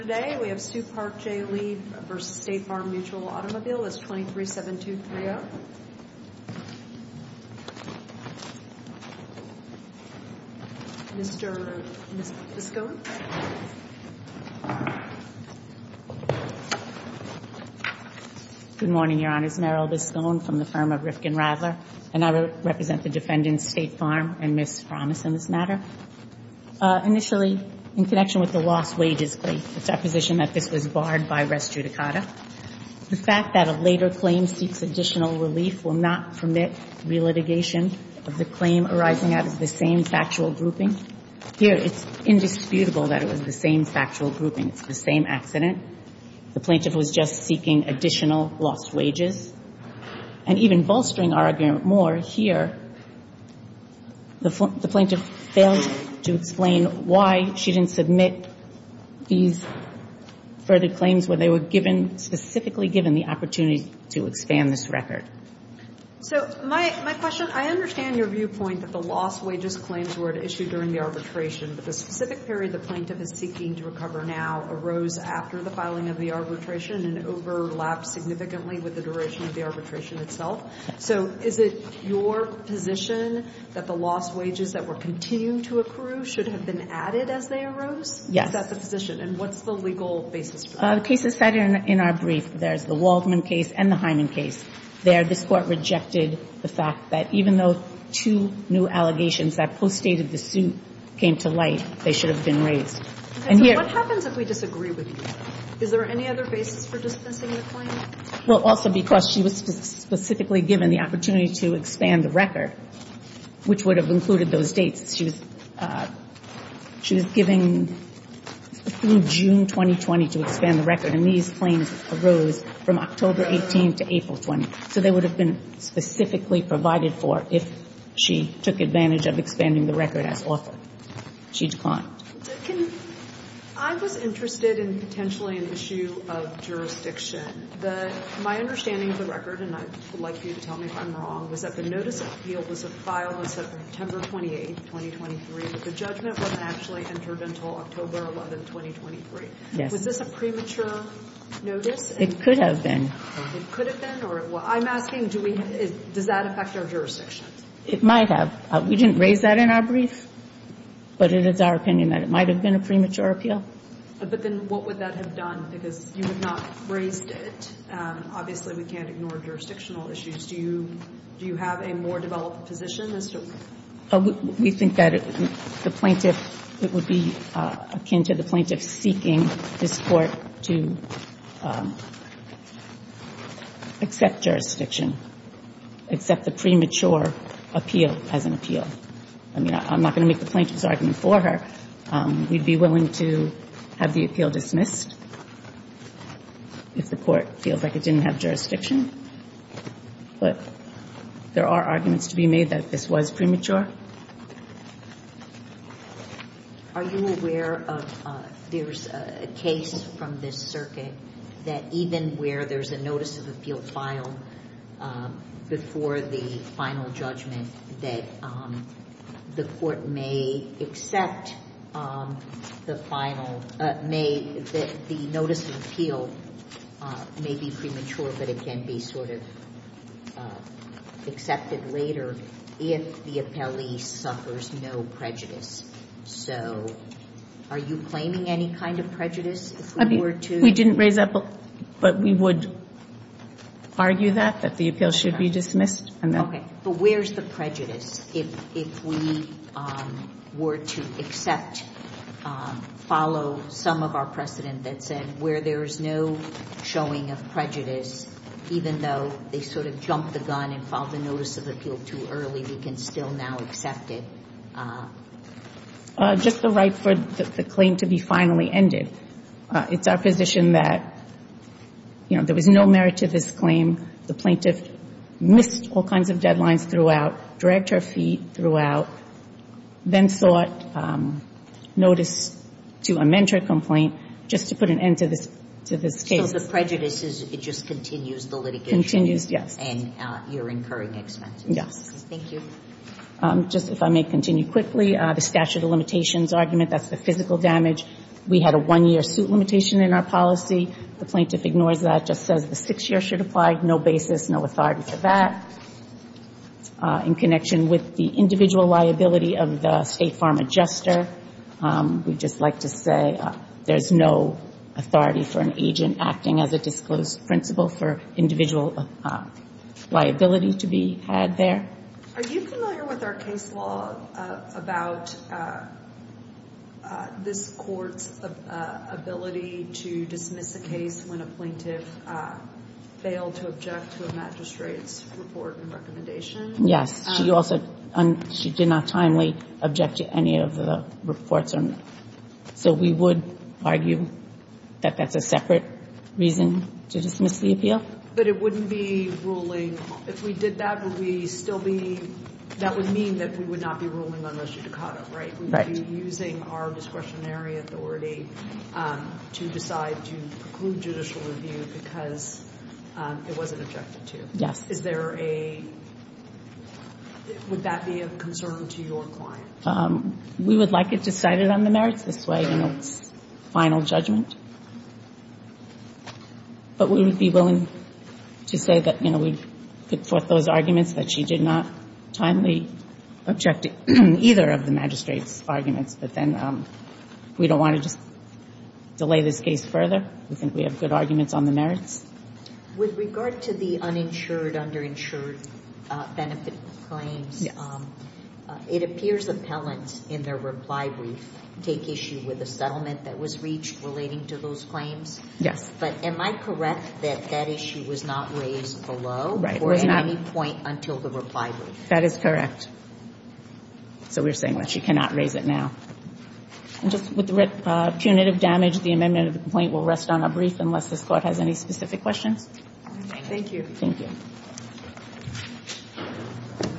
Today we have Sue Park J. Lee v. State Farm Mutual Automobile. It's 23-7-2-3-0. Mr. Biscone. Good morning, Your Honors. Meryl Biscone from the firm of Rifkin-Radler. And I represent the defendants, State Farm and Ms. Frommis, in this matter. Initially, in connection with the lost wages claim, it's our position that this was barred by res judicata. The fact that a later claim seeks additional relief will not permit relitigation of the claim arising out of the same factual grouping. Here, it's indisputable that it was the same factual grouping. It's the same accident. The plaintiff was just seeking additional lost wages. And even bolstering our argument more, here, the plaintiff fails to explain why she didn't submit these further claims when they were given, specifically given the opportunity to expand this record. So my question, I understand your viewpoint that the lost wages claims were at issue during the arbitration, but the specific period the plaintiff is seeking to recover now arose after the filing of the arbitration and overlapped significantly with the duration of the arbitration itself. So is it your position that the lost wages that were continuing to accrue should have been added as they arose? Yes. Is that the position? And what's the legal basis for that? The case is set in our brief. There's the Waldman case and the Hyman case. There, this Court rejected the fact that even though two new allegations that postdated the suit came to light, they should have been raised. So what happens if we disagree with you? Is there any other basis for dispensing the claim? Well, also because she was specifically given the opportunity to expand the record, which would have included those dates. She was given through June 2020 to expand the record, and these claims arose from October 18 to April 20. So they would have been specifically provided for if she took advantage of expanding the record as offered. She declined. I was interested in potentially an issue of jurisdiction. My understanding of the record, and I would like for you to tell me if I'm wrong, was that the notice of appeal was a file that said September 28, 2023, but the judgment wasn't actually entered until October 11, 2023. Yes. Was this a premature notice? It could have been. It could have been? I'm asking, does that affect our jurisdiction? It might have. We didn't raise that in our brief, but it is our opinion that it might have been a premature appeal. But then what would that have done? Because you have not raised it. Obviously, we can't ignore jurisdictional issues. Do you have a more developed position as to what? We think that the plaintiff, it would be akin to the plaintiff seeking this court to accept jurisdiction, accept the premature appeal as an appeal. I mean, I'm not going to make the plaintiff's argument for her. We'd be willing to have the appeal dismissed if the court feels like it didn't have jurisdiction. But there are arguments to be made that this was premature. Are you aware of there's a case from this circuit that even where there's a notice of appeal filed before the final judgment, the court may accept the final, may, the notice of appeal may be premature, but it can be sort of accepted later if the appellee suffers no prejudice. So are you claiming any kind of prejudice if we were to? We didn't raise that, but we would argue that, that the appeal should be dismissed. Okay. But where's the prejudice if we were to accept, follow some of our precedent that said where there's no showing of prejudice, even though they sort of jumped the gun and filed the notice of appeal too early, we can still now accept it? Just the right for the claim to be finally ended. It's our position that, you know, there was no merit to this claim. The plaintiff missed all kinds of deadlines throughout, dragged her feet throughout, then sought notice to amend her complaint just to put an end to this case. So the prejudice is it just continues the litigation. Continues, yes. And you're incurring expenses. Yes. Thank you. Just if I may continue quickly, the statute of limitations argument, that's the physical damage. We had a one-year suit limitation in our policy. The plaintiff ignores that, just says the six-year should apply. No basis, no authority for that. In connection with the individual liability of the State Farm Adjuster, we'd just like to say there's no authority for an agent acting as a disclosed principal for individual liability to be had there. Are you familiar with our case law about this Court's ability to dismiss a case when a plaintiff failed to object to a magistrate's report and recommendation? Yes. She also did not timely object to any of the reports. So we would argue that that's a separate reason to dismiss the appeal. But it wouldn't be ruling, if we did that, would we still be, that would mean that we would not be ruling on res judicata, right? Right. We would be using our discretionary authority to decide to preclude judicial review because it wasn't objected to. Yes. Is there a, would that be of concern to your client? We would like it decided on the merits this way in its final judgment. But we would be willing to say that, you know, we've put forth those arguments that she did not timely object to either of the magistrate's arguments. But then we don't want to just delay this case further. We think we have good arguments on the merits. With regard to the uninsured, underinsured benefit claims, it appears appellants in their reply brief take issue with a settlement that was reached relating to those claims. Yes. But am I correct that that issue was not raised below or at any point until the reply brief? That is correct. So we're saying that she cannot raise it now. And just with punitive damage, the amendment of the complaint will rest on a brief, unless this Court has any specific questions. Thank you. Thank you.